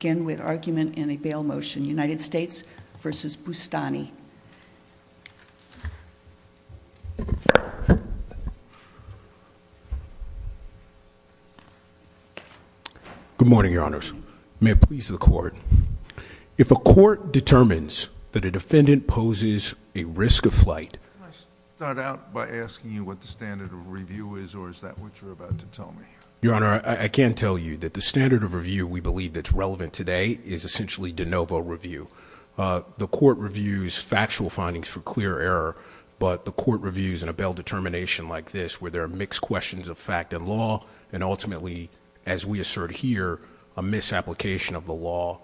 Again, with argument in a bail motion, United States v. Bustani. Good morning, Your Honors. May it please the Court. If a Court determines that a defendant poses a risk of flight- Can I start out by asking you what the standard of review is, or is that what you're about to tell me? Your Honor, I can tell you that the standard of review we believe that's relevant today is essentially de novo review. The Court reviews factual findings for clear error, but the Court reviews in a bail determination like this where there are mixed questions of fact and law, and ultimately, as we assert here, a misapplication of the law,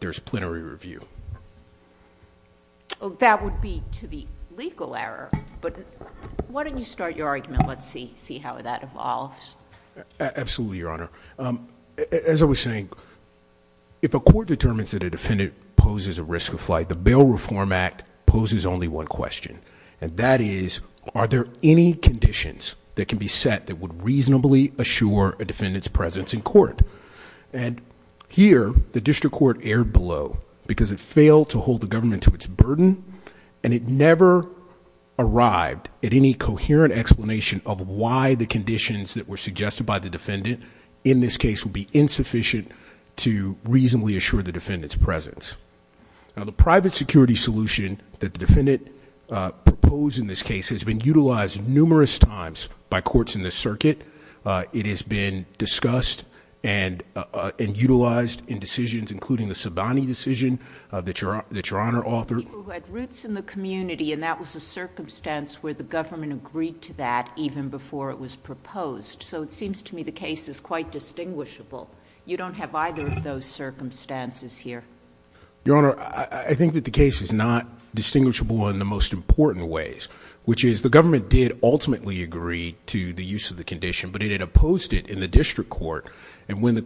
there's plenary review. That would be to the legal error, but why don't you start your argument, let's see how that evolves. Absolutely, Your Honor. As I was saying, if a Court determines that a defendant poses a risk of flight, the Bail Reform Act poses only one question, and that is, are there any conditions that can be set that would reasonably assure a defendant's presence in court? And here, the District Court erred below because it failed to hold the government to its burden, and it never arrived at any coherent explanation of why the conditions that were suggested by the defendant in this case would be insufficient to reasonably assure the defendant's presence. The private security solution that the defendant proposed in this case has been utilized numerous times by courts in this circuit. It has been discussed and utilized in decisions, including the Sabani decision that Your Honor authored... People who had roots in the community, and that was a circumstance where the government agreed to that even before it was proposed, so it seems to me the case is quite distinguishable. You don't have either of those circumstances here. Your Honor, I think that the case is not distinguishable in the most important ways, which is, the government did ultimately agree to the use of the condition, but it had opposed it in the District Court, and when the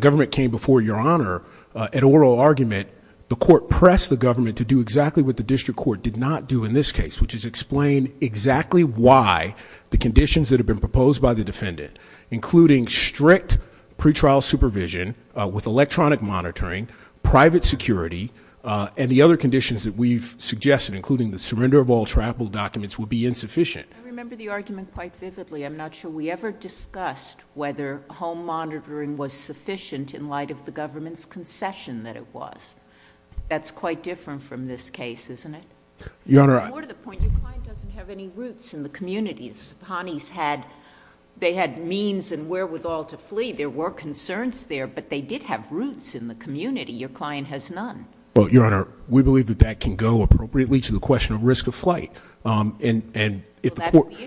government came before Your Honor at oral argument, the government, to do exactly what the District Court did not do in this case, which is explain exactly why the conditions that have been proposed by the defendant, including strict pre-trial supervision with electronic monitoring, private security, and the other conditions that we've suggested, including the surrender of all travel documents, would be insufficient. I remember the argument quite vividly. I'm not sure we ever discussed whether home monitoring was sufficient in light of the government's concession that it was. That's quite different from this case, isn't it? Your Honor, I... More to the point, your client doesn't have any roots in the community. Sopanis had... they had means and wherewithal to flee. There were concerns there, but they did have roots in the community. Your client has none. Well, Your Honor, we believe that that can go appropriately to the question of risk of flight, and if the court... Well, that's the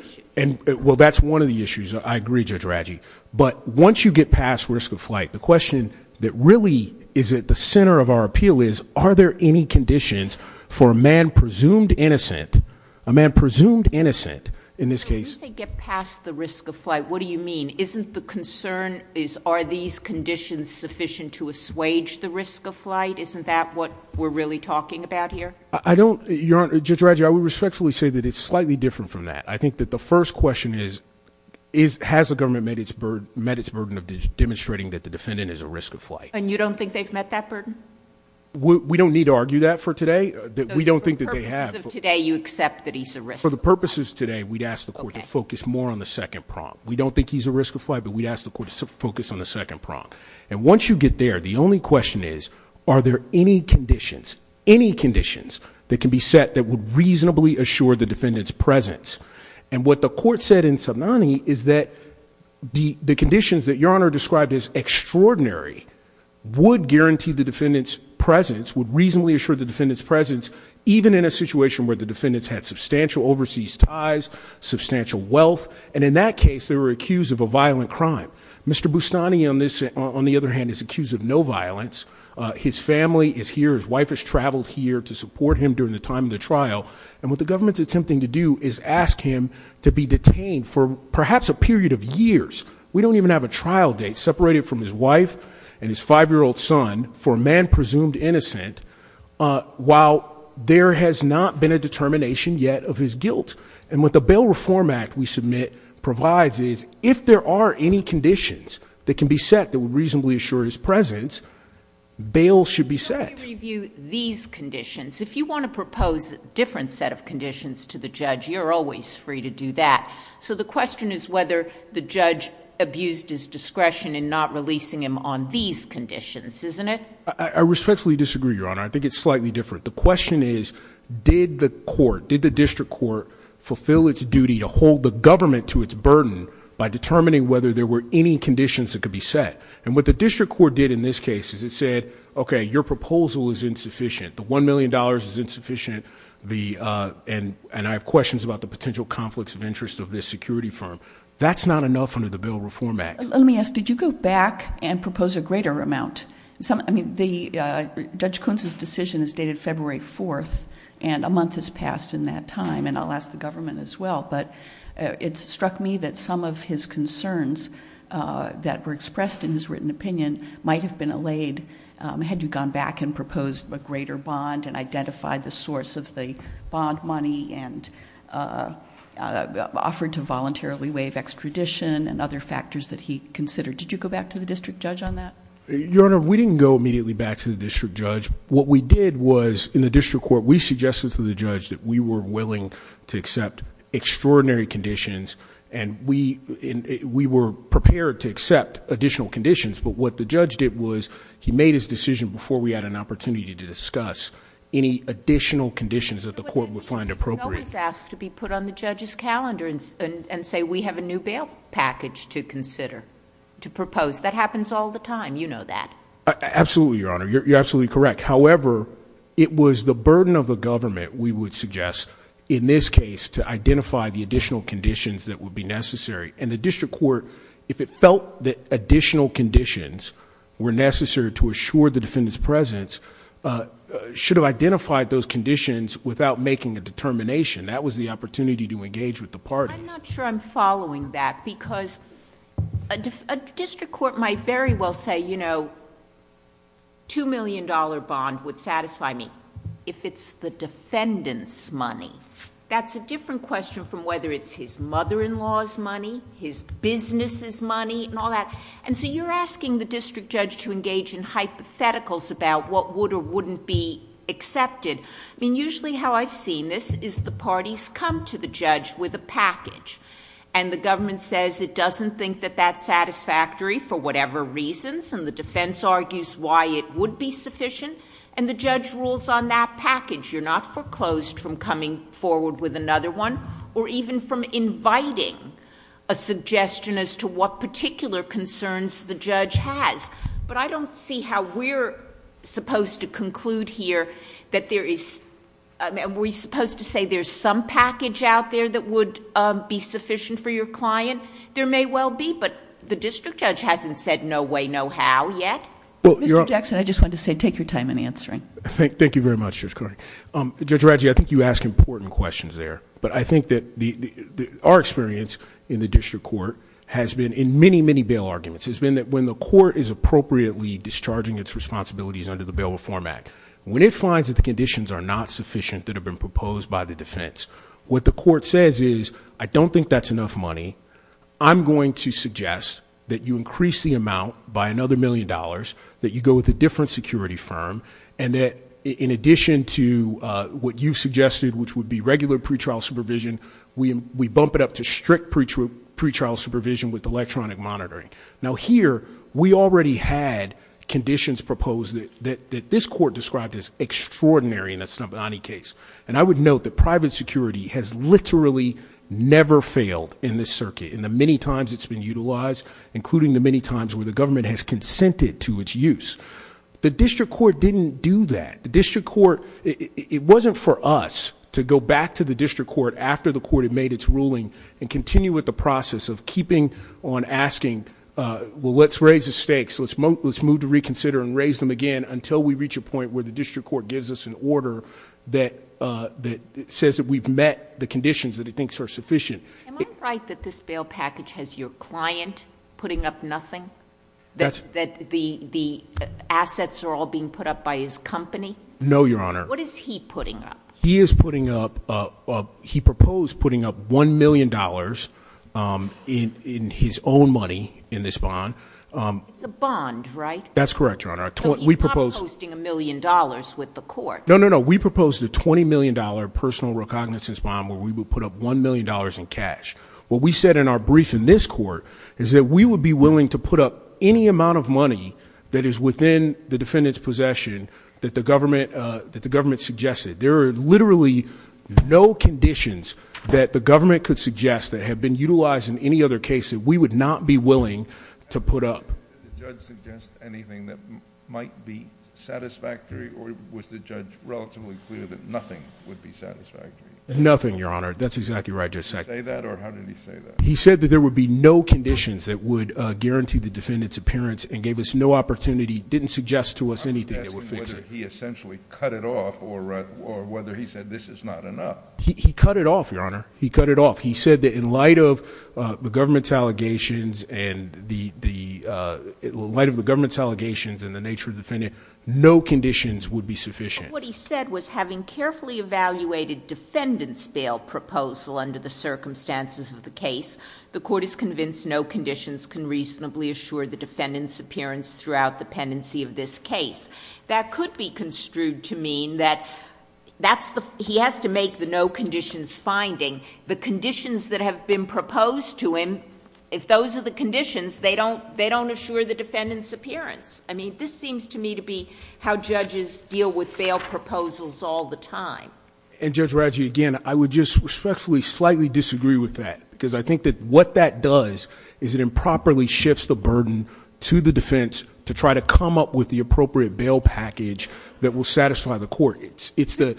issue. Well, that's one of the issues. I agree, Judge Raggi, but once you get past risk of flight, the question that really is at the center of our appeal is, are there any conditions for a man presumed innocent, a man presumed innocent in this case... When you say get past the risk of flight, what do you mean? Isn't the concern is, are these conditions sufficient to assuage the risk of flight? Isn't that what we're really talking about here? I don't... Your Honor, Judge Raggi, I would respectfully say that it's slightly different from that. I think that the first question is, has the government met its burden of demonstrating that the defendant is at risk of flight? And you don't think they've met that burden? We don't need to argue that for today. We don't think that they have. So for the purposes of today, you accept that he's at risk of flight? For the purposes of today, we'd ask the court to focus more on the second prompt. We don't think he's at risk of flight, but we'd ask the court to focus on the second prompt. And once you get there, the only question is, are there any conditions, any conditions that can be set that would reasonably assure the defendant's presence? And what the court said in Subnani is that the conditions that Your Honor described as extraordinary would guarantee the defendant's presence, would reasonably assure the defendant's presence, even in a situation where the defendant's had substantial overseas ties, substantial wealth. And in that case, they were accused of a violent crime. Mr. Bustani, on the other hand, is accused of no violence. His family is here. His wife has traveled here to support him during the time of the trial. And what the government's attempting to do is ask him to be detained for perhaps a period of years. We don't even have a trial date separated from his wife and his five-year-old son for a man presumed innocent, while there has not been a determination yet of his guilt. And what the Bail Reform Act we submit provides is, if there are any conditions that can be set that would reasonably assure his presence, bail should be set. Let me review these conditions. If you want to propose a different set of conditions to the judge, you're always free to do that. So the question is whether the judge abused his discretion in not releasing him on these conditions, isn't it? I respectfully disagree, Your Honor. I think it's slightly different. The question is, did the court, did the district court fulfill its duty to hold the government to its burden by determining whether there were any conditions that could be set? And what the district court did in this case is it said, okay, your proposal is insufficient. The $1 million is insufficient. And I have questions about the potential conflicts of interest of this security firm. That's not enough under the Bail Reform Act. Let me ask, did you go back and propose a greater amount? I mean, Judge Kuntz's decision is dated February 4th, and a month has passed in that time. And I'll ask the government as well. But it struck me that some of his concerns that were expressed in his written opinion might have been allayed had you gone back and proposed a greater bond and identified the source of the bond money and offered to voluntarily waive extradition and other factors that he considered. Did you go back to the district judge on that? Your Honor, we didn't go immediately back to the district judge. What we did was, in the district court, we suggested to the judge that we were willing to accept extraordinary conditions, and we were prepared to accept additional conditions. But what the judge did was, he made his decision before we had an opportunity to discuss any additional conditions that the court would find appropriate. No one's asked to be put on the judge's calendar and say, we have a new bail package to consider, to propose. That happens all the time. You know that. Absolutely, Your Honor. You're absolutely correct. However, it was the burden of the government, we would suggest, in this case, to identify the additional conditions that would be necessary. The district court, if it felt that additional conditions were necessary to assure the defendant's presence, should have identified those conditions without making a determination. That was the opportunity to engage with the parties. I'm not sure I'm following that because a district court might very well say, you know, two million dollar bond would satisfy me if it's the defendant's money. That's a different question from whether it's his mother-in-law's money, his business' money, and all that. And so you're asking the district judge to engage in hypotheticals about what would or wouldn't be accepted. I mean, usually how I've seen this is the parties come to the judge with a package. And the government says it doesn't think that that's satisfactory for whatever reasons, and the defense argues why it would be sufficient. And the judge rules on that package. You're not foreclosed from coming forward with another one or even from inviting a suggestion as to what particular concerns the judge has. But I don't see how we're supposed to conclude here that there is, I mean, we're supposed to say there's some package out there that would be sufficient for your client. There may well be, but the district judge hasn't said no way, no how yet. Mr. Jackson, I just wanted to say take your time in answering. Thank you very much, Judge Carter. Judge Radji, I think you ask important questions there. But I think that our experience in the district court has been in many, many bail arguments. It's been that when the court is appropriately discharging its responsibilities under the Bail Reform Act. When it finds that the conditions are not sufficient that have been proposed by the defense, what the court says is, I don't think that's enough money. I'm going to suggest that you increase the amount by another million dollars, that you go with a different security firm. And that in addition to what you've suggested, which would be regular pretrial supervision, we bump it up to strict pretrial supervision with electronic monitoring. Now here, we already had conditions proposed that this court described as extraordinary, and that's not the only case. And I would note that private security has literally never failed in this circuit, in the many times it's been utilized, including the many times where the government has consented to its use. The district court didn't do that. The district court, it wasn't for us to go back to the district court after the court had made its ruling and continue with the process of keeping on asking, well, let's raise the stakes. Let's move to reconsider and raise them again until we reach a point where the district court gives us an order that says that we've met the conditions that it thinks are sufficient. Am I right that this bail package has your client putting up nothing? That the assets are all being put up by his company? No, Your Honor. What is he putting up? He is putting up, he proposed putting up $1 million in his own money in this bond. It's a bond, right? That's correct, Your Honor. We propose- So you're not posting a million dollars with the court? No, no, no. We proposed a $20 million personal recognizance bond where we would put up $1 million in cash. What we said in our brief in this court is that we would be willing to put up any amount of money that is within the defendant's possession that the government suggested. There are literally no conditions that the government could suggest that have been utilized in any other case that we would not be willing to put up. Did the judge suggest anything that might be satisfactory, or was the judge relatively clear that nothing would be satisfactory? Nothing, Your Honor. That's exactly right. Just a second. Did he say that, or how did he say that? He said that there would be no conditions that would guarantee the defendant's appearance and gave us no opportunity, didn't suggest to us anything that would fix it. I'm just asking whether he essentially cut it off, or whether he said this is not enough. He cut it off, Your Honor. He cut it off. He said that in light of the government's allegations and the nature of the defendant, no conditions would be sufficient. What he said was having carefully evaluated defendant's bail proposal under the circumstances of the case, the court is convinced no conditions can reasonably assure the defendant's appearance throughout the pendency of this case. That could be construed to mean that he has to make the no conditions finding. The conditions that have been proposed to him, if those are the conditions, they don't assure the defendant's appearance. I mean, this seems to me to be how judges deal with bail proposals all the time. And Judge Radji, again, I would just respectfully slightly disagree with that, because I think that what that does is it improperly shifts the burden to the defense to try to come up with the appropriate bail package that will satisfy the court.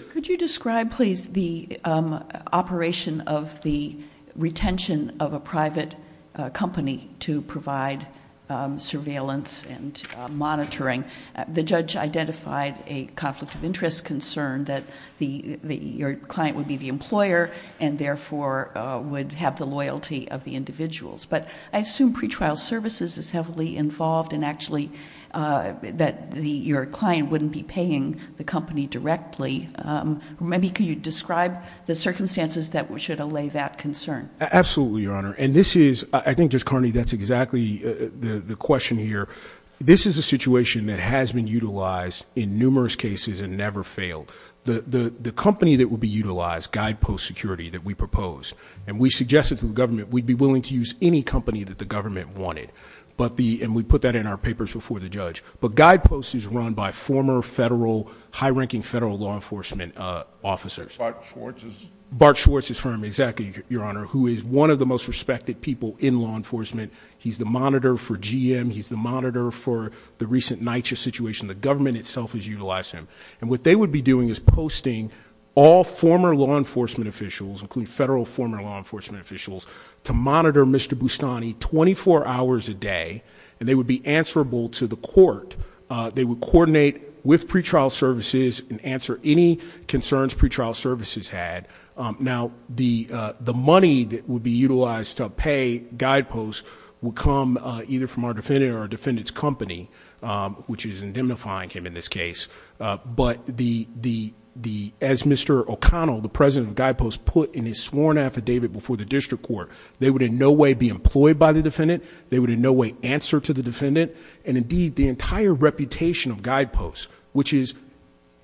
Could you describe, please, the operation of the retention of a private company to provide surveillance and monitoring? The judge identified a conflict of interest concern that your client would be the employer, and therefore would have the loyalty of the individuals. But I assume pretrial services is heavily involved, and that your client wouldn't be paying the company directly. Maybe could you describe the circumstances that should allay that concern? Absolutely, Your Honor. And this is, I think Judge Carney, that's exactly the question here. This is a situation that has been utilized in numerous cases and never failed. The company that would be utilized, Guidepost Security, that we proposed, and we suggested to the government we'd be willing to use any company that the government wanted. And we put that in our papers before the judge. But Guidepost is run by former federal, high-ranking federal law enforcement officers. Bart Schwartz's? Bart Schwartz's firm, exactly, Your Honor, who is one of the most respected people in law enforcement. He's the monitor for GM, he's the monitor for the recent NYCHA situation. The government itself has utilized him. And what they would be doing is posting all former law enforcement officials, including federal former law enforcement officials, to monitor Mr. Bustani 24 hours a day. And they would be answerable to the court. They would coordinate with pretrial services and answer any concerns pretrial services had. Now, the money that would be utilized to pay Guidepost would come either from our defendant or our defendant's company, which is indemnifying him in this case. But as Mr. O'Connell, the president of Guidepost, put in his sworn affidavit before the district court, they would in no way be employed by the defendant, they would in no way answer to the defendant. And indeed, the entire reputation of Guidepost, which is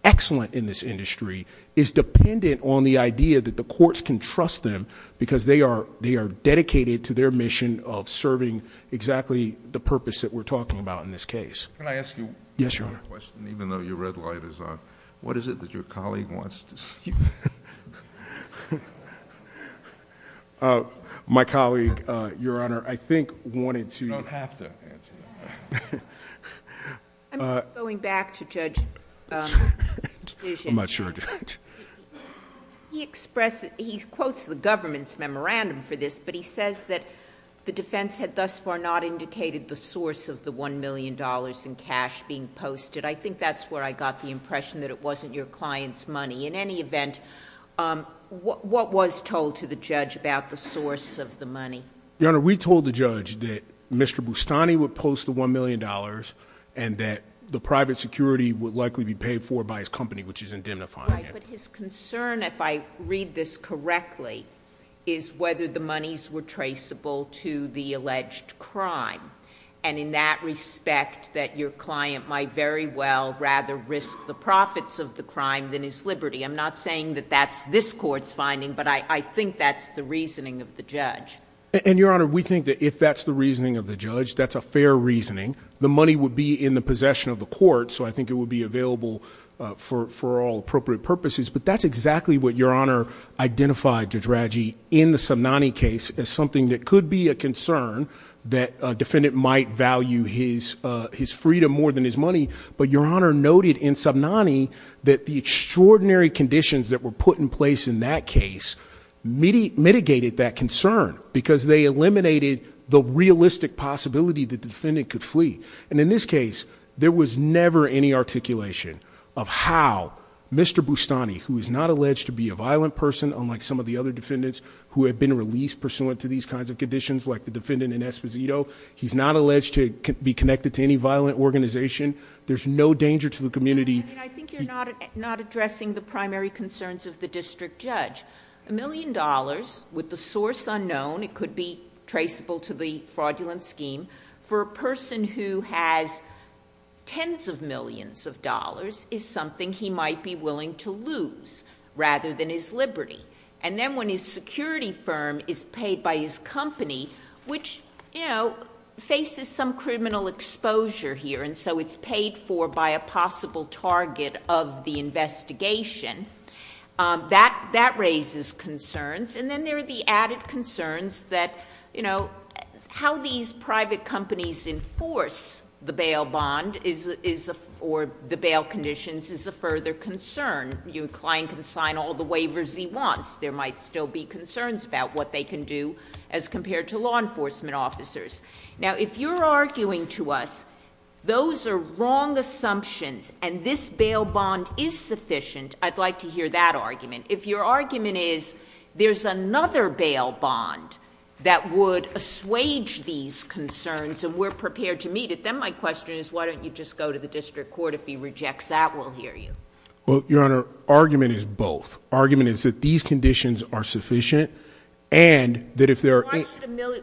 excellent in this industry, is dependent on the idea that the courts can trust them because they are dedicated to their mission of serving exactly the purpose that we're talking about in this case. Can I ask you- Yes, Your Honor. A question, even though your red light is on. What is it that your colleague wants to see? My colleague, Your Honor, I think wanted to- You don't have to answer that. I'm going back to Judge- I'm not sure, Judge. He quotes the government's memorandum for this, but he says that the defense had thus far not indicated the source of the $1 million in cash being posted. I think that's where I got the impression that it wasn't your client's money. In any event, what was told to the judge about the source of the money? Your Honor, we told the judge that Mr. Bustani would post the $1 million and that the private security would likely be paid for by his company, which is indemnifying him. Right, but his concern, if I read this correctly, is whether the monies were traceable to the alleged crime. And in that respect, that your client might very well rather risk the profits of the crime than his liberty. I'm not saying that that's this court's finding, but I think that's the reasoning of the judge. And, Your Honor, we think that if that's the reasoning of the judge, that's a fair reasoning. The money would be in the possession of the court, so I think it would be available for all appropriate purposes. But that's exactly what Your Honor identified, Judge Radji, in the Somnani case as something that could be a concern that a defendant might value his freedom more than his money. But Your Honor noted in Somnani that the extraordinary conditions that were put in place in that case mitigated that concern because they eliminated the realistic possibility that the defendant could flee. And in this case, there was never any articulation of how Mr. Bustani, who is not alleged to be a violent person, unlike some of the other defendants who have been released pursuant to these kinds of conditions, like the defendant in Esposito. He's not alleged to be connected to any violent organization. There's no danger to the community. I think you're not addressing the primary concerns of the district judge. A million dollars, with the source unknown, it could be traceable to the fraudulent scheme. For a person who has tens of millions of dollars, is something he might be willing to lose rather than his liberty. And then when his security firm is paid by his company, which faces some criminal exposure here. And so it's paid for by a possible target of the investigation. That raises concerns. And then there are the added concerns that how these private companies enforce the bail bond or the bail conditions is a further concern. Your client can sign all the waivers he wants. There might still be concerns about what they can do as compared to law enforcement officers. Now if you're arguing to us those are wrong assumptions and this bail bond is sufficient, I'd like to hear that argument. If your argument is there's another bail bond that would assuage these concerns and we're prepared to meet it, then my question is why don't you just go to the district court if he rejects that, we'll hear you. Well, your honor, argument is both. Argument is that these conditions are sufficient and that if there are-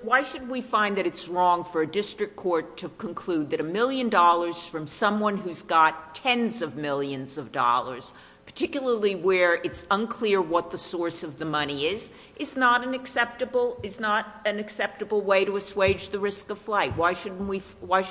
Why should we find that it's wrong for a district court to conclude that a million dollars from someone who's got tens of millions of dollars, particularly where it's unclear what the source of the money is, is not an acceptable way to assuage the risk of flight. Why should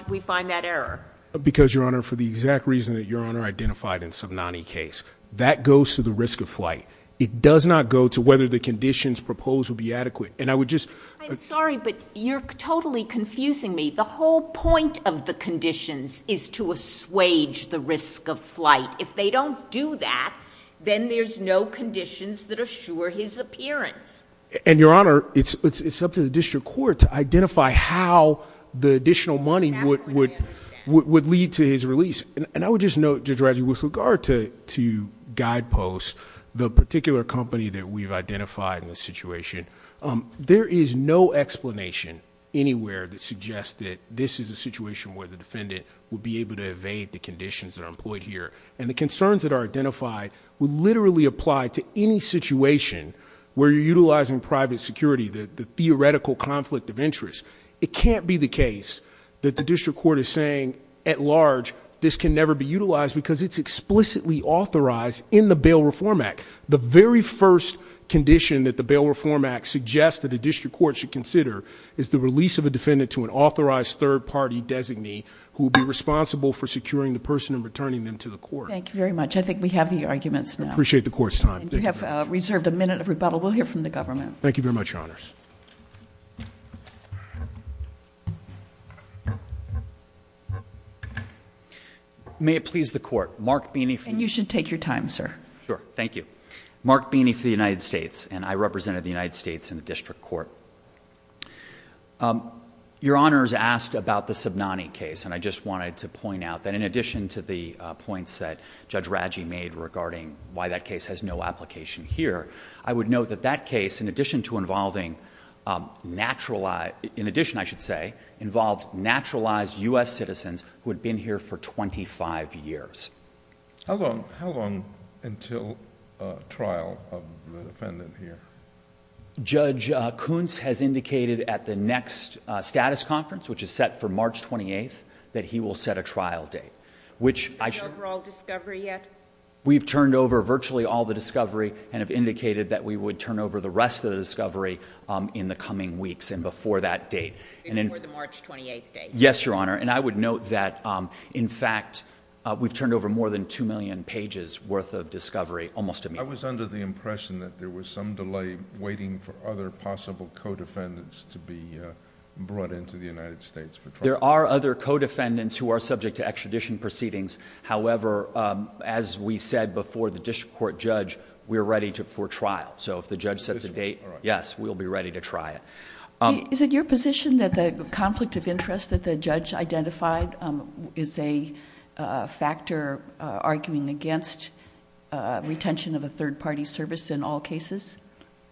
we find that error? Because, your honor, for the exact reason that your honor identified in Subnani case. That goes to the risk of flight. It does not go to whether the conditions proposed would be adequate. And I would just- I'm sorry, but you're totally confusing me. The whole point of the conditions is to assuage the risk of flight. If they don't do that, then there's no conditions that assure his appearance. And your honor, it's up to the district court to identify how the additional money would lead to his release. And I would just note, Judge Radley, with regard to guideposts, the particular company that we've identified in this situation. There is no explanation anywhere that suggests that this is a situation where the defendant would be able to evade the conditions that are employed here. And the concerns that are identified would literally apply to any situation where you're utilizing private security, the theoretical conflict of interest. It can't be the case that the district court is saying, at large, this can never be utilized because it's explicitly authorized in the Bail Reform Act. The very first condition that the Bail Reform Act suggests that the district court should consider is the release of a defendant to an authorized third party designee who would be responsible for securing the person and returning them to the court. Thank you very much. I think we have the arguments now. I appreciate the court's time. And you have reserved a minute of rebuttal. We'll hear from the government. Thank you very much, your honors. May it please the court. Mark Beeney for- And you should take your time, sir. Sure, thank you. Mark Beeney for the United States, and I represented the United States in the district court. Your honors asked about the Subnani case, and I just wanted to point out that in addition to the points that Judge Radji made regarding why that case has no application here, I would note that that case, in addition to involving naturalized- in addition, I should say, involved naturalized U.S. citizens who had been here for 25 years. How long until trial of the defendant here? Judge Kuntz has indicated at the next status conference, which is set for March 28th, that he will set a trial date. Which I should- The overall discovery yet? We've turned over virtually all the discovery, and have indicated that we would turn over the rest of the discovery in the coming weeks and before that date. And then- Before the March 28th date. Yes, your honor. And I would note that in fact, we've turned over more than 2 million pages worth of discovery almost immediately. I was under the impression that there was some delay waiting for other possible co-defendants to be brought into the United States for trial. There are other co-defendants who are subject to extradition proceedings. However, as we said before the district court judge, we're ready for trial. So if the judge sets a date, yes, we'll be ready to try it. Is it your position that the conflict of interest that the judge identified is a factor arguing against retention of a third party service in all cases?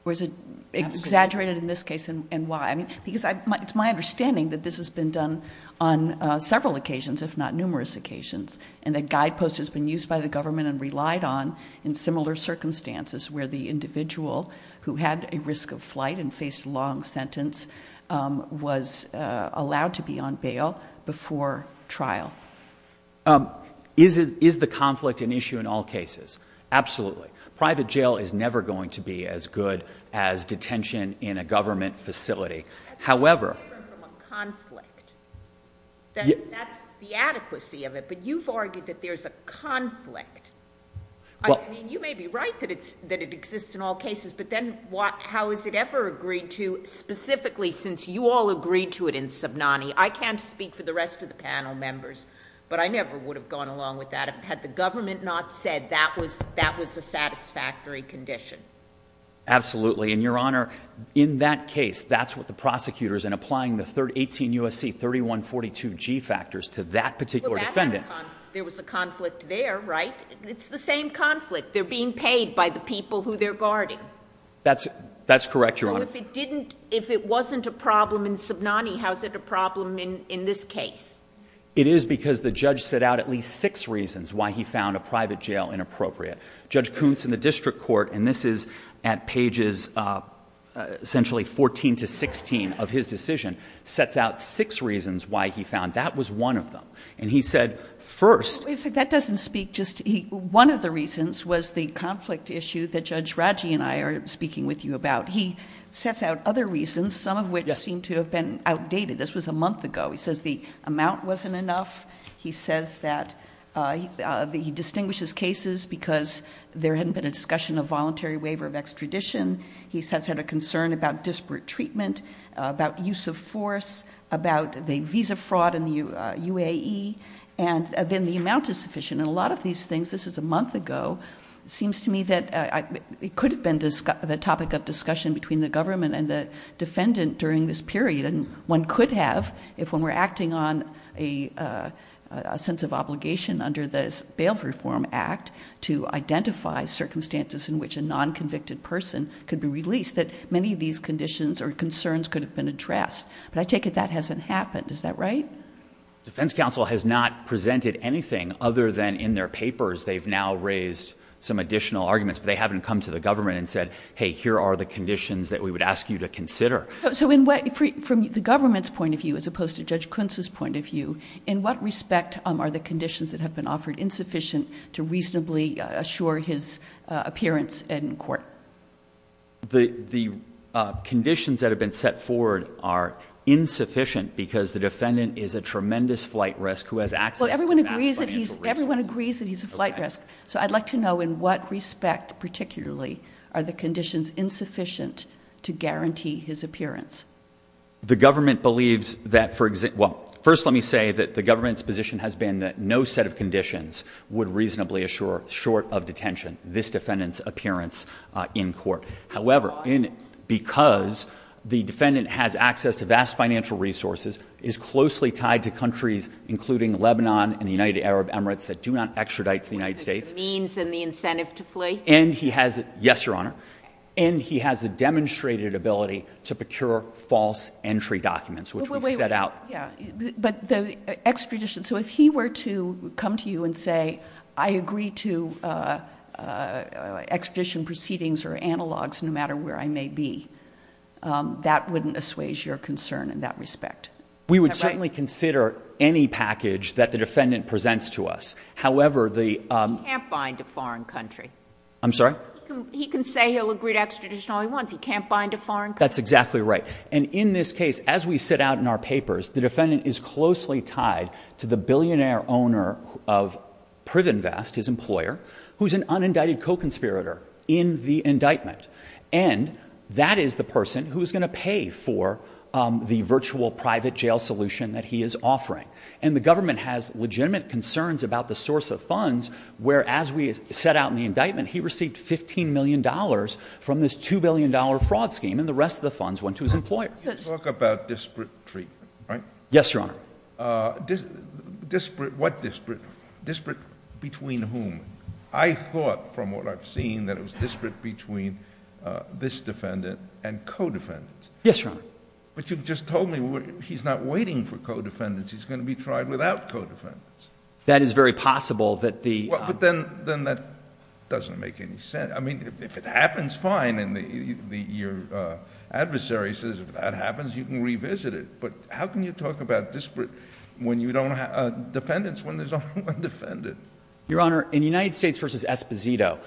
Or is it exaggerated in this case and why? I mean, because it's my understanding that this has been done on several occasions, if not numerous occasions. And a guide post has been used by the government and relied on in similar circumstances where the individual who had a risk of flight and Is the conflict an issue in all cases? Absolutely. Private jail is never going to be as good as detention in a government facility. However- That's a difference from a conflict. That's the adequacy of it. But you've argued that there's a conflict. I mean, you may be right that it exists in all cases. But then how is it ever agreed to specifically since you all agreed to it in Subnani? I can't speak for the rest of the panel members, but I never would have gone along with that had the government not said that was a satisfactory condition. Absolutely, and Your Honor, in that case, that's what the prosecutor's in applying the 18 USC 3142G factors to that particular defendant. There was a conflict there, right? It's the same conflict. They're being paid by the people who they're guarding. That's correct, Your Honor. So if it wasn't a problem in Subnani, how is it a problem in this case? It is because the judge set out at least six reasons why he found a private jail inappropriate. Judge Kuntz in the district court, and this is at pages essentially 14 to 16 of his decision, sets out six reasons why he found that was one of them. And he said first- Wait a second, that doesn't speak just to, one of the reasons was the conflict issue that Judge Raji and I are speaking with you about. He sets out other reasons, some of which seem to have been outdated. This was a month ago. He says the amount wasn't enough. He says that he distinguishes cases because there hadn't been a discussion of voluntary waiver of extradition. He's had a concern about disparate treatment, about use of force, about the visa fraud in the UAE. And then the amount is sufficient. And a lot of these things, this is a month ago, seems to me that it could have been the topic of discussion between the government and the defendant during this period. And one could have, if when we're acting on a sense of obligation under this Bail Reform Act to identify circumstances in which a non-convicted person could be released, that many of these conditions or concerns could have been addressed. But I take it that hasn't happened, is that right? Defense counsel has not presented anything other than in their papers. They've now raised some additional arguments. But they haven't come to the government and said, hey, here are the conditions that we would ask you to consider. So from the government's point of view, as opposed to Judge Kuntz's point of view, in what respect are the conditions that have been offered insufficient to reasonably assure his appearance in court? The conditions that have been set forward are insufficient because the defendant is a tremendous flight risk, who has access to an ASFA- Well, everyone agrees that he's a flight risk. So I'd like to know in what respect, particularly, are the conditions insufficient to guarantee his appearance? The government believes that, well, first let me say that the government's position has been that no set of conditions would reasonably assure, short of detention, this defendant's appearance in court. However, because the defendant has access to vast financial resources, is closely tied to countries including Lebanon and the United Arab Emirates that do not extradite to the United States. Means and the incentive to flee. And he has, yes, your honor, and he has a demonstrated ability to procure false entry documents, which we set out. Yeah, but the extradition, so if he were to come to you and say, I agree to extradition proceedings or analogs, no matter where I may be. That wouldn't assuage your concern in that respect. We would certainly consider any package that the defendant presents to us. However, the- He can't bind a foreign country. I'm sorry? He can say he'll agree to extradition all he wants. He can't bind a foreign country. That's exactly right. And in this case, as we set out in our papers, the defendant is closely tied to the billionaire owner of Privenvest, his employer, who's an unindicted co-conspirator in the indictment. And that is the person who's going to pay for the virtual private jail solution that he is offering. And the government has legitimate concerns about the source of funds, where as we set out in the indictment he received $15 million from this $2 billion fraud scheme. And the rest of the funds went to his employer. You talk about disparate treatment, right? Yes, Your Honor. Disparate, what disparate? Disparate between whom? I thought from what I've seen that it was disparate between this defendant and co-defendants. Yes, Your Honor. But you've just told me he's not waiting for co-defendants, he's going to be tried without co-defendants. That is very possible that the- Well, but then that doesn't make any sense. I mean, if it happens, fine, and your adversary says if that happens, you can revisit it. But how can you talk about disparate when you don't have defendants when there's only one defendant? Your Honor, in United States versus Esposito,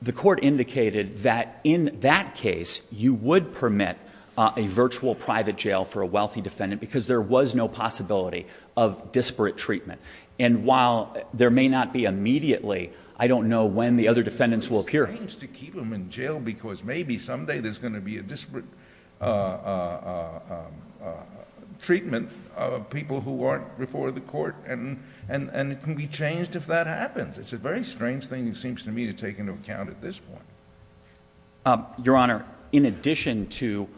the court indicated that in that case, you would permit a virtual private jail for a wealthy defendant because there was no possibility of disparate treatment. And while there may not be immediately, I don't know when the other defendants will appear. It's strange to keep them in jail because maybe someday there's going to be a disparate treatment of people who aren't before the court. And it can be changed if that happens. It's a very strange thing, it seems to me, to take into account at this point. Your Honor, in addition to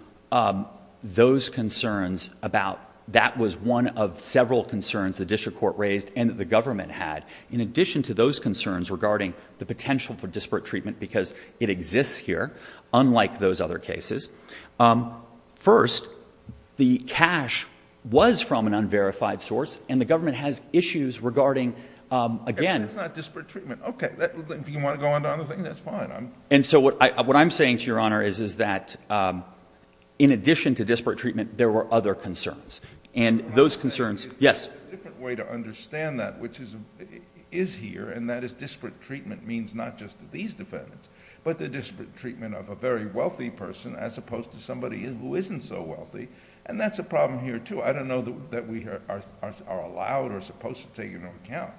those concerns about that was one of several concerns the district court raised and that the government had. In addition to those concerns regarding the potential for disparate treatment because it exists here, unlike those other cases. First, the cash was from an unverified source, and the government has issues regarding, again- That's not disparate treatment. Okay, if you want to go on to other things, that's fine. And so what I'm saying to your honor is that in addition to disparate treatment, there were other concerns. And those concerns- Yes. A different way to understand that, which is here, and that is disparate treatment means not just to these defendants, but the disparate treatment of a very wealthy person as opposed to somebody who isn't so wealthy. And that's a problem here, too. I don't know that we are allowed or supposed to take into account,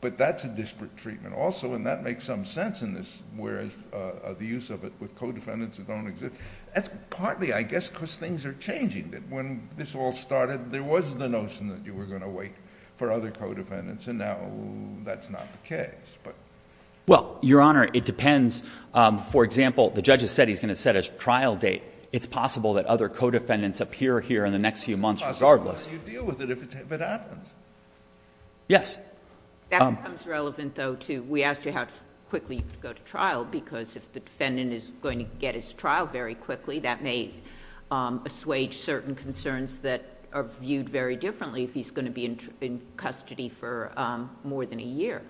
but that's a disparate treatment also. And that makes some sense in this, whereas the use of it with co-defendants that don't exist. That's partly, I guess, because things are changing. That when this all started, there was the notion that you were going to wait for other co-defendants. And now that's not the case, but- Well, your honor, it depends. For example, the judge has said he's going to set a trial date. It's possible that other co-defendants appear here in the next few months, regardless. It's possible that you deal with it if it happens. Yes. That becomes relevant, though, too. We asked you how quickly you could go to trial, because if the defendant is going to get his trial very quickly, that may assuage certain concerns that are viewed very differently if he's going to be in custody for more than a year.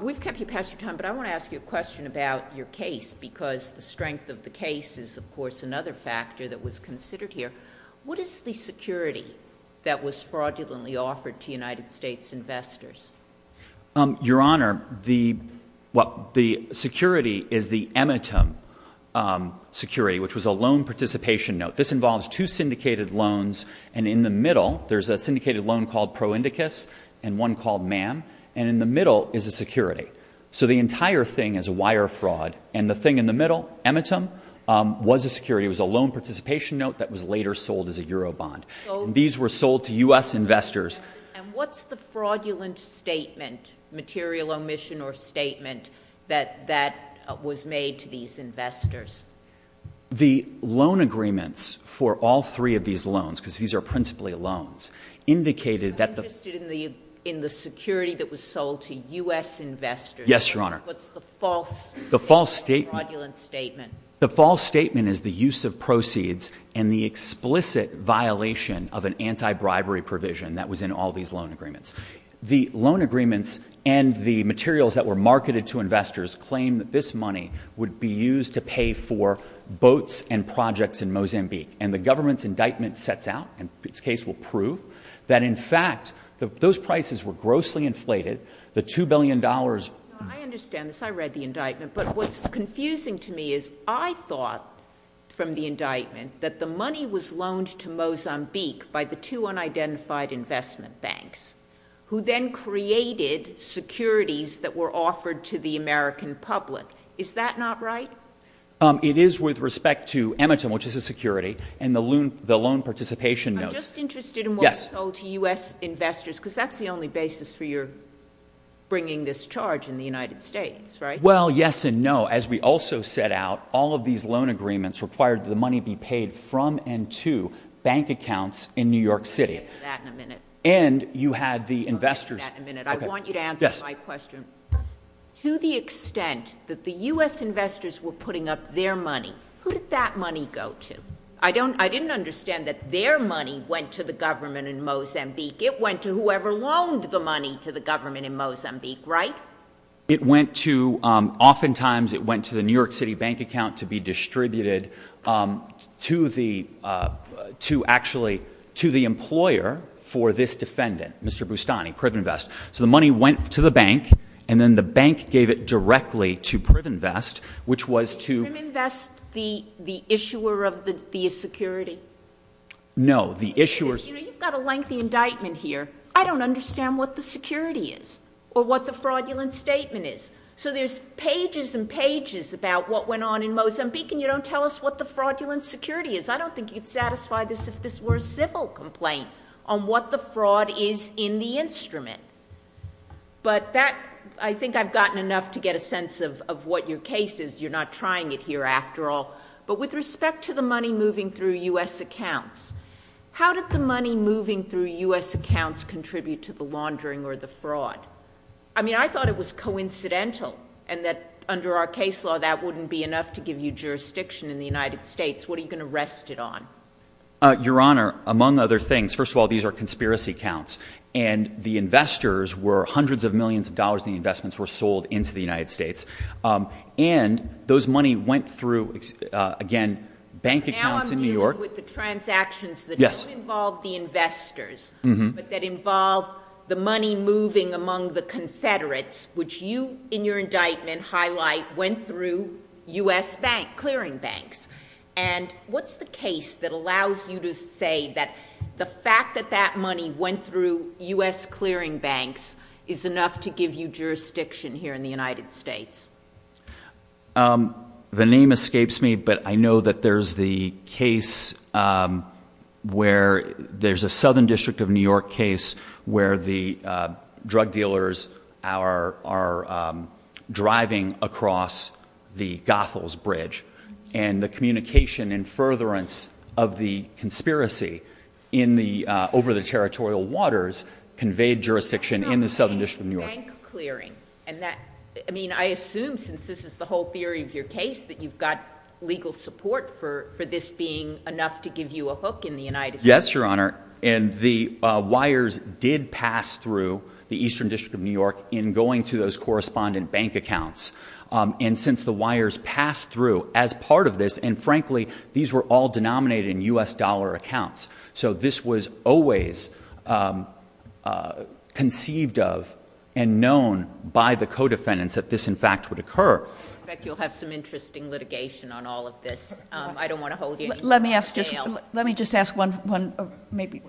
We've kept you past your time, but I want to ask you a question about your case, because the strength of the case is, of course, another factor that was considered here. What is the security that was fraudulently offered to United States investors? Your honor, the security is the Emetem security, which was a loan participation note. This involves two syndicated loans, and in the middle, there's a syndicated loan called ProIndicus and one called MAM. And in the middle is a security. So the entire thing is a wire fraud, and the thing in the middle, Emetem, was a security. It was a loan participation note that was later sold as a Euro bond. These were sold to U.S. investors- And what's the fraudulent statement, material omission or statement, that was made to these investors? The loan agreements for all three of these loans, because these are principally loans, indicated that the- I'm interested in the security that was sold to U.S. investors. Yes, your honor. What's the false statement? The false statement- Fraudulent statement. The false statement is the use of proceeds and the explicit violation of an anti-bribery provision that was in all these loan agreements. The loan agreements and the materials that were marketed to investors claim that this money would be used to pay for boats and projects in Mozambique. And the government's indictment sets out, and its case will prove, that in fact, those prices were grossly inflated. The $2 billion- Your honor, I understand this. I read the indictment. But what's confusing to me is, I thought from the indictment that the money was loaned to Mozambique by the two unidentified investment banks. Who then created securities that were offered to the American public. Is that not right? It is with respect to Emetem, which is a security, and the loan participation notes. I'm just interested in what was sold to U.S. investors. Because that's the only basis for your bringing this charge in the United States, right? Well, yes and no. As we also set out, all of these loan agreements required the money be paid from and to bank accounts in New York City. We'll get to that in a minute. And you had the investors- We'll get to that in a minute. I want you to answer my question. To the extent that the U.S. investors were putting up their money, who did that money go to? I didn't understand that their money went to the government in Mozambique. It went to whoever loaned the money to the government in Mozambique, right? It went to, oftentimes, it went to the New York City bank account to be distributed to actually, to the employer for this defendant, Mr. Bustani, Privenvest. So the money went to the bank, and then the bank gave it directly to Privenvest, which was to- Privenvest, the issuer of the security? No, the issuers- You've got a lengthy indictment here. I don't understand what the security is, or what the fraudulent statement is. So there's pages and pages about what went on in Mozambique, and you don't tell us what the fraudulent security is. I don't think you'd satisfy this if this were a civil complaint on what the fraud is in the instrument. But that, I think I've gotten enough to get a sense of what your case is. You're not trying it here after all. But with respect to the money moving through US accounts, how did the money moving through US accounts contribute to the laundering or the fraud? I mean, I thought it was coincidental, and that under our case law, that wouldn't be enough to give you jurisdiction in the United States. What are you going to rest it on? Your Honor, among other things, first of all, these are conspiracy counts. And the investors were hundreds of millions of dollars in investments were sold into the United States. And those money went through, again, bank accounts in New York. Now I'm dealing with the transactions that don't involve the investors, but that involve the money moving among the Confederates, which you, in your indictment, highlight went through US clearing banks. And what's the case that allows you to say that the fact that that money went through US clearing banks is enough to give you jurisdiction here in the United States? The name escapes me, but I know that there's the case where, there's a Southern District of New York case where the drug dealers are driving across the Gothel's Bridge. And the communication and furtherance of the conspiracy over the territorial waters conveyed jurisdiction in the Southern District of New York. Bank clearing, and that, I mean, I assume since this is the whole theory of your case that you've got legal support for this being enough to give you a hook in the United States. Yes, Your Honor, and the wires did pass through the Eastern District of New York in going to those correspondent bank accounts. And since the wires passed through as part of this, and frankly, these were all denominated in US dollar accounts. So this was always conceived of and known by the co-defendants that this, in fact, would occur. I expect you'll have some interesting litigation on all of this. I don't want to hold you. Let me just ask one, maybe,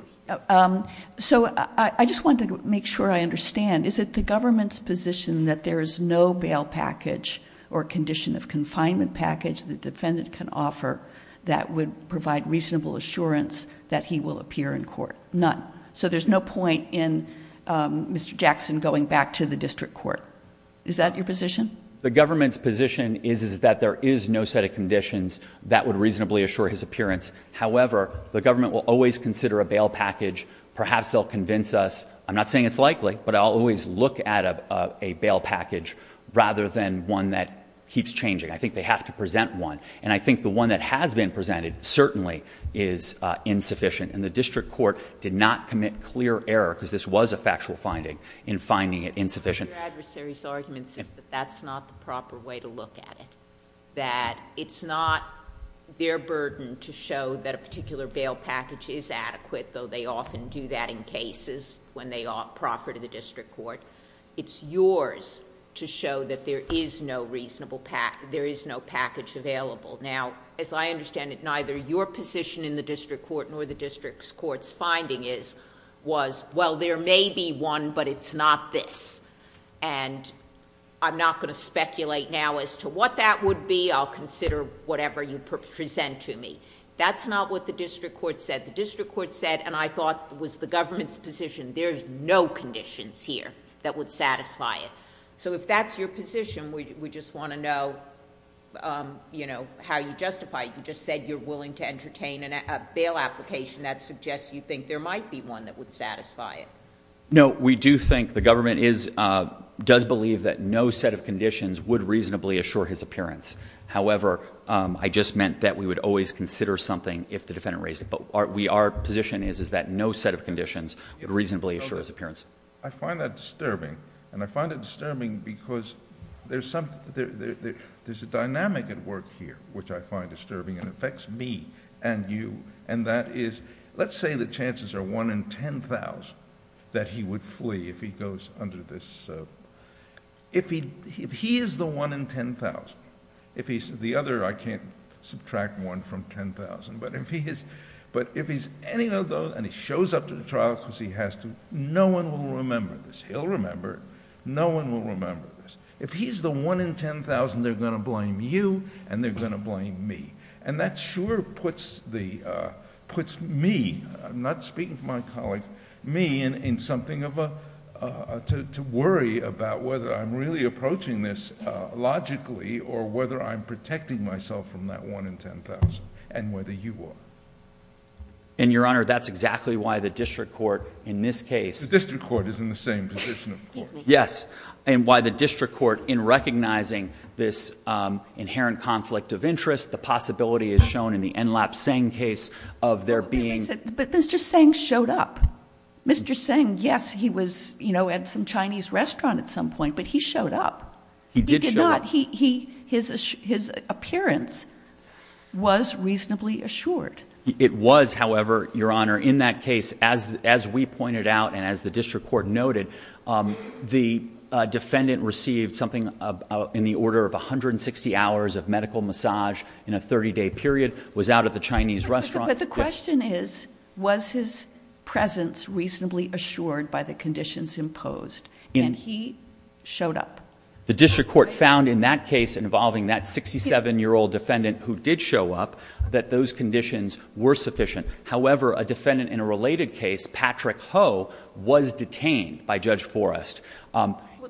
so I just wanted to make sure I understand. Is it the government's position that there is no bail package or condition of confinement package the defendant can offer that would provide reasonable assurance that he will appear in court? None. So there's no point in Mr. Jackson going back to the district court. Is that your position? The government's position is that there is no set of conditions that would reasonably assure his appearance. However, the government will always consider a bail package. Perhaps they'll convince us, I'm not saying it's likely, but I'll always look at a bail package rather than one that keeps changing. I think they have to present one. And I think the one that has been presented certainly is insufficient. And the district court did not commit clear error, because this was a factual finding, in finding it insufficient. Your adversary's argument says that that's not the proper way to look at it. That it's not their burden to show that a particular bail package is adequate, though they often do that in cases when they offer to the district court. It's yours to show that there is no reasonable, there is no package available. Now, as I understand it, neither your position in the district court nor the district court's finding is, was, well, there may be one, but it's not this. And I'm not going to speculate now as to what that would be. I'll consider whatever you present to me. That's not what the district court said. The district court said, and I thought was the government's position, there's no conditions here that would satisfy it. So if that's your position, we just want to know how you justify it. You just said you're willing to entertain a bail application that suggests you think there might be one that would satisfy it. No, we do think the government does believe that no set of conditions would reasonably assure his appearance. However, I just meant that we would always consider something if the defendant raised it. But our position is that no set of conditions would reasonably assure his appearance. I find that disturbing. And I find it disturbing because there's a dynamic at work here which I find disturbing and affects me and you. And that is, let's say the chances are one in 10,000 that he would flee if he goes under this. So if he is the one in 10,000, if he's the other, I can't subtract one from 10,000. But if he's any of those and he shows up to the trial because he has to, no one will remember this. He'll remember, no one will remember this. If he's the one in 10,000, they're going to blame you and they're going to blame me. And that sure puts me, I'm not speaking for my colleagues, but me in something of a, to worry about whether I'm really approaching this logically or whether I'm protecting myself from that one in 10,000 and whether you are. And your honor, that's exactly why the district court in this case. The district court is in the same position of course. Yes. And why the district court in recognizing this inherent conflict of interest, the possibility is shown in the Enlap Seng case of there being. But Mr. Seng showed up. Mr. Seng, yes, he was at some Chinese restaurant at some point, but he showed up. He did show up. His appearance was reasonably assured. It was, however, your honor, in that case, as we pointed out and as the district court noted, the defendant received something in the order of 160 hours of medical massage in a 30 day period. Was out at the Chinese restaurant. But the question is, was his presence reasonably assured by the conditions imposed? And he showed up. The district court found in that case involving that 67 year old defendant who did show up that those conditions were sufficient. However, a defendant in a related case, Patrick Ho, was detained by Judge Forrest.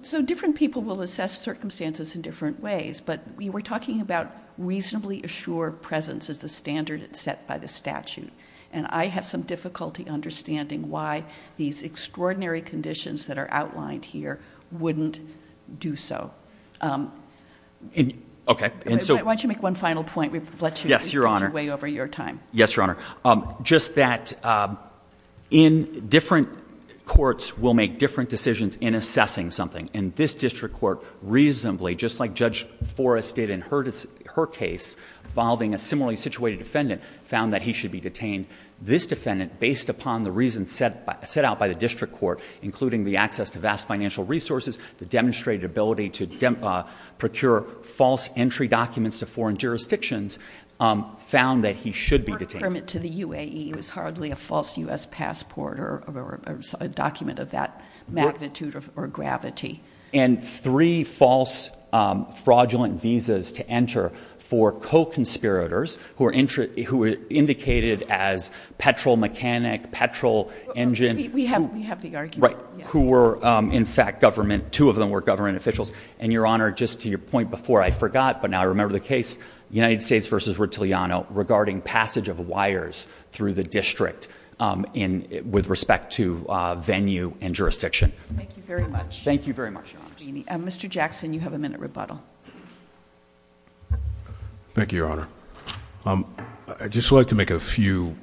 So different people will assess circumstances in different ways. But we were talking about reasonably assured presence as the standard set by the statute. And I have some difficulty understanding why these extraordinary conditions that are outlined here wouldn't do so. Okay, and so- Why don't you make one final point? We've let you- Yes, your honor. Get your way over your time. Yes, your honor. Just that in different courts will make different decisions in assessing something. And this district court reasonably, just like Judge Forrest did in her case, involving a similarly situated defendant, found that he should be detained. This defendant, based upon the reasons set out by the district court, including the access to vast financial resources, the demonstrated ability to procure false entry documents to foreign jurisdictions, found that he should be detained. The permit to the UAE was hardly a false US passport or a document of that magnitude or gravity. And three false fraudulent visas to enter for co-conspirators who were indicated as petrol mechanic, petrol engine. We have the argument. Right, who were in fact government, two of them were government officials. And your honor, just to your point before, I forgot, but now I remember the case, United States versus Rotiliano, regarding passage of wires through the district with respect to venue and jurisdiction. Thank you very much. Thank you very much, your honor. Mr. Jackson, you have a minute rebuttal. Thank you, your honor. I'd just like to make a few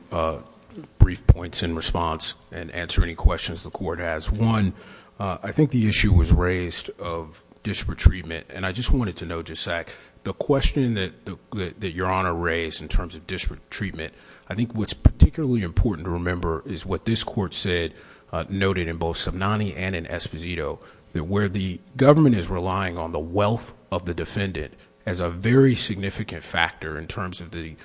brief points in response and answer any questions the court has. One, I think the issue was raised of disparate treatment, and I just wanted to know just a sec. The question that your honor raised in terms of disparate treatment, I think what's particularly important to remember is what this court said, noted in both Somnani and in Esposito. That where the government is relying on the wealth of the defendant as a very significant factor, in terms of the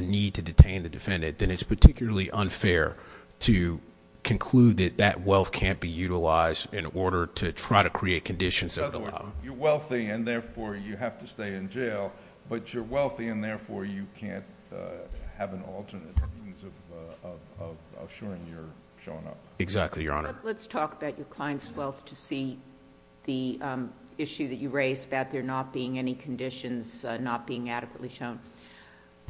need to detain the defendant, then it's particularly unfair to conclude that that wealth can't be utilized in order to try to create conditions that allow. You're wealthy and therefore you have to stay in jail, but you're wealthy and therefore you can't have an alternate means of assuring your showing up. Exactly, your honor. Let's talk about your client's wealth to see the issue that you raised about there not being any conditions, not being adequately shown.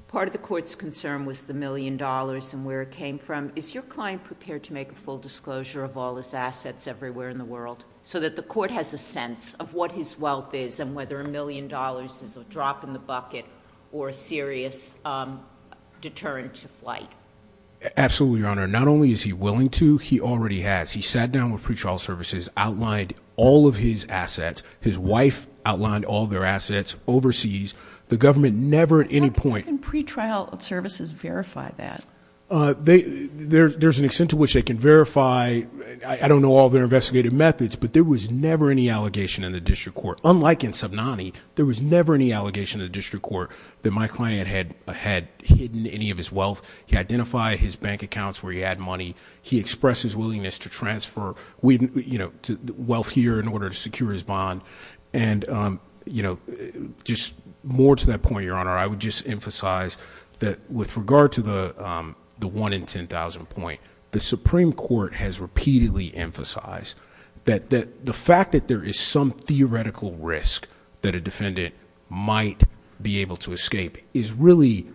Part of the court's concern was the million dollars and where it came from. Is your client prepared to make a full disclosure of all his assets everywhere in the world? So that the court has a sense of what his wealth is and whether a million dollars is a drop in the bucket or a serious deterrent to flight. Absolutely, your honor. Not only is he willing to, he already has. He sat down with pretrial services, outlined all of his assets. His wife outlined all their assets overseas. The government never at any point- How can pretrial services verify that? There's an extent to which they can verify, I don't know all their investigative methods, but there was never any allegation in the district court. Unlike in Subnani, there was never any allegation in the district court that my client had hidden any of his wealth. He identified his bank accounts where he had money. He expressed his willingness to transfer wealth here in order to secure his bond. Your honor, I would just emphasize that with regard to the one in 10,000 point, the Supreme Court has repeatedly emphasized that the fact that there is some theoretical risk that a defendant might be able to escape is really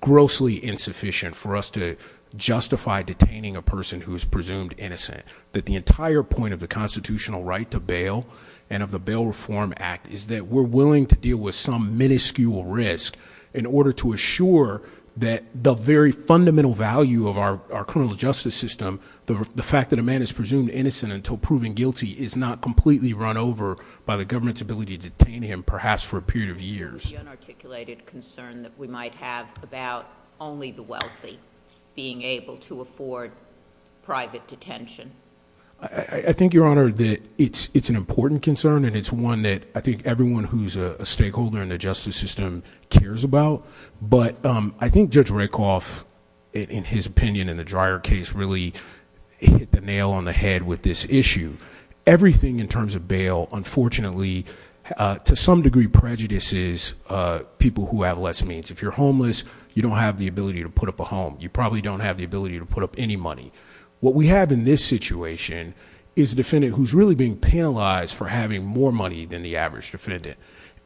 grossly insufficient for us to justify detaining a person who is presumed innocent. That the entire point of the constitutional right to bail and of the Bail Reform Act is that we're willing to deal with some minuscule risk in order to assure that the very fundamental value of our criminal justice system, the fact that a man is presumed innocent until proven guilty is not completely run over by the government's ability to detain him, perhaps for a period of years. The unarticulated concern that we might have about only the wealthy being able to afford private detention. I think, your honor, that it's an important concern, and it's one that I think everyone who's a stakeholder in the justice system cares about. But I think Judge Rakoff, in his opinion in the dryer case, really hit the nail on the head with this issue. Everything in terms of bail, unfortunately, to some degree prejudices people who have less means. If you're homeless, you don't have the ability to put up a home. You probably don't have the ability to put up any money. What we have in this situation is a defendant who's really being penalized for having more money than the average defendant.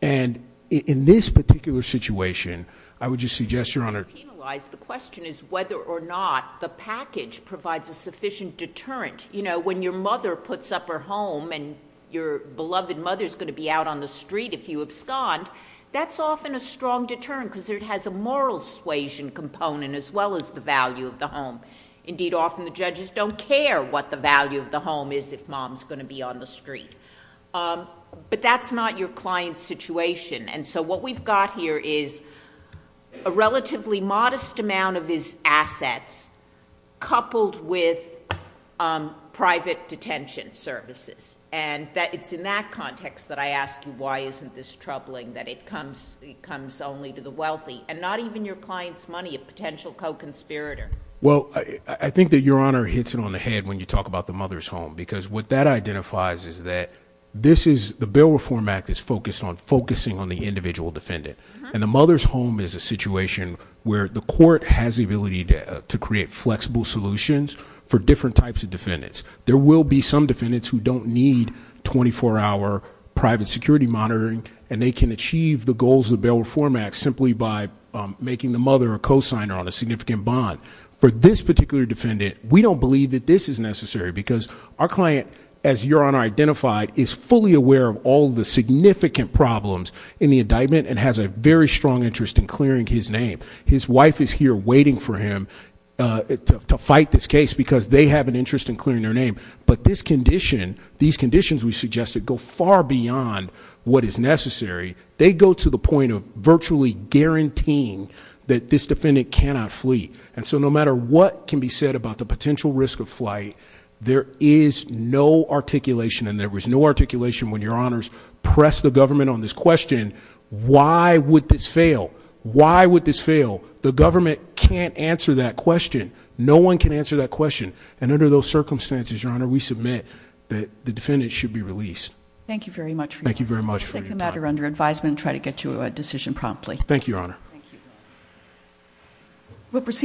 And in this particular situation, I would just suggest, your honor- penalized, the question is whether or not the package provides a sufficient deterrent. When your mother puts up her home and your beloved mother's going to be out on the street if you abscond, that's often a strong deterrent because it has a moral suasion component as well as the value of the home. Indeed, often the judges don't care what the value of the home is if mom's going to be on the street. But that's not your client's situation. And so what we've got here is a relatively modest amount of his assets coupled with private detention services. And it's in that context that I ask you why isn't this troubling, that it comes only to the wealthy. And not even your client's money, a potential co-conspirator. Well, I think that your honor hits it on the head when you talk about the mother's home. Because what that identifies is that the Bill Reform Act is focused on focusing on the individual defendant. And the mother's home is a situation where the court has the ability to create flexible solutions for different types of defendants. There will be some defendants who don't need 24 hour private security monitoring, and they can achieve the goals of the Bill Reform Act simply by making the mother a cosigner on a significant bond. For this particular defendant, we don't believe that this is necessary because our client, as your honor identified, is fully aware of all the significant problems in the indictment and has a very strong interest in clearing his name. His wife is here waiting for him to fight this case because they have an interest in clearing their name. But these conditions we suggested go far beyond what is necessary. They go to the point of virtually guaranteeing that this defendant cannot flee. And so no matter what can be said about the potential risk of flight, there is no articulation. And there was no articulation when your honors pressed the government on this question, why would this fail? Why would this fail? The government can't answer that question. No one can answer that question. And under those circumstances, your honor, we submit that the defendant should be released. Thank you very much for your time. Thank you very much for your time. We'll take the matter under advisement and try to get you a decision promptly. Thank you, your honor. Thank you. We'll proceed.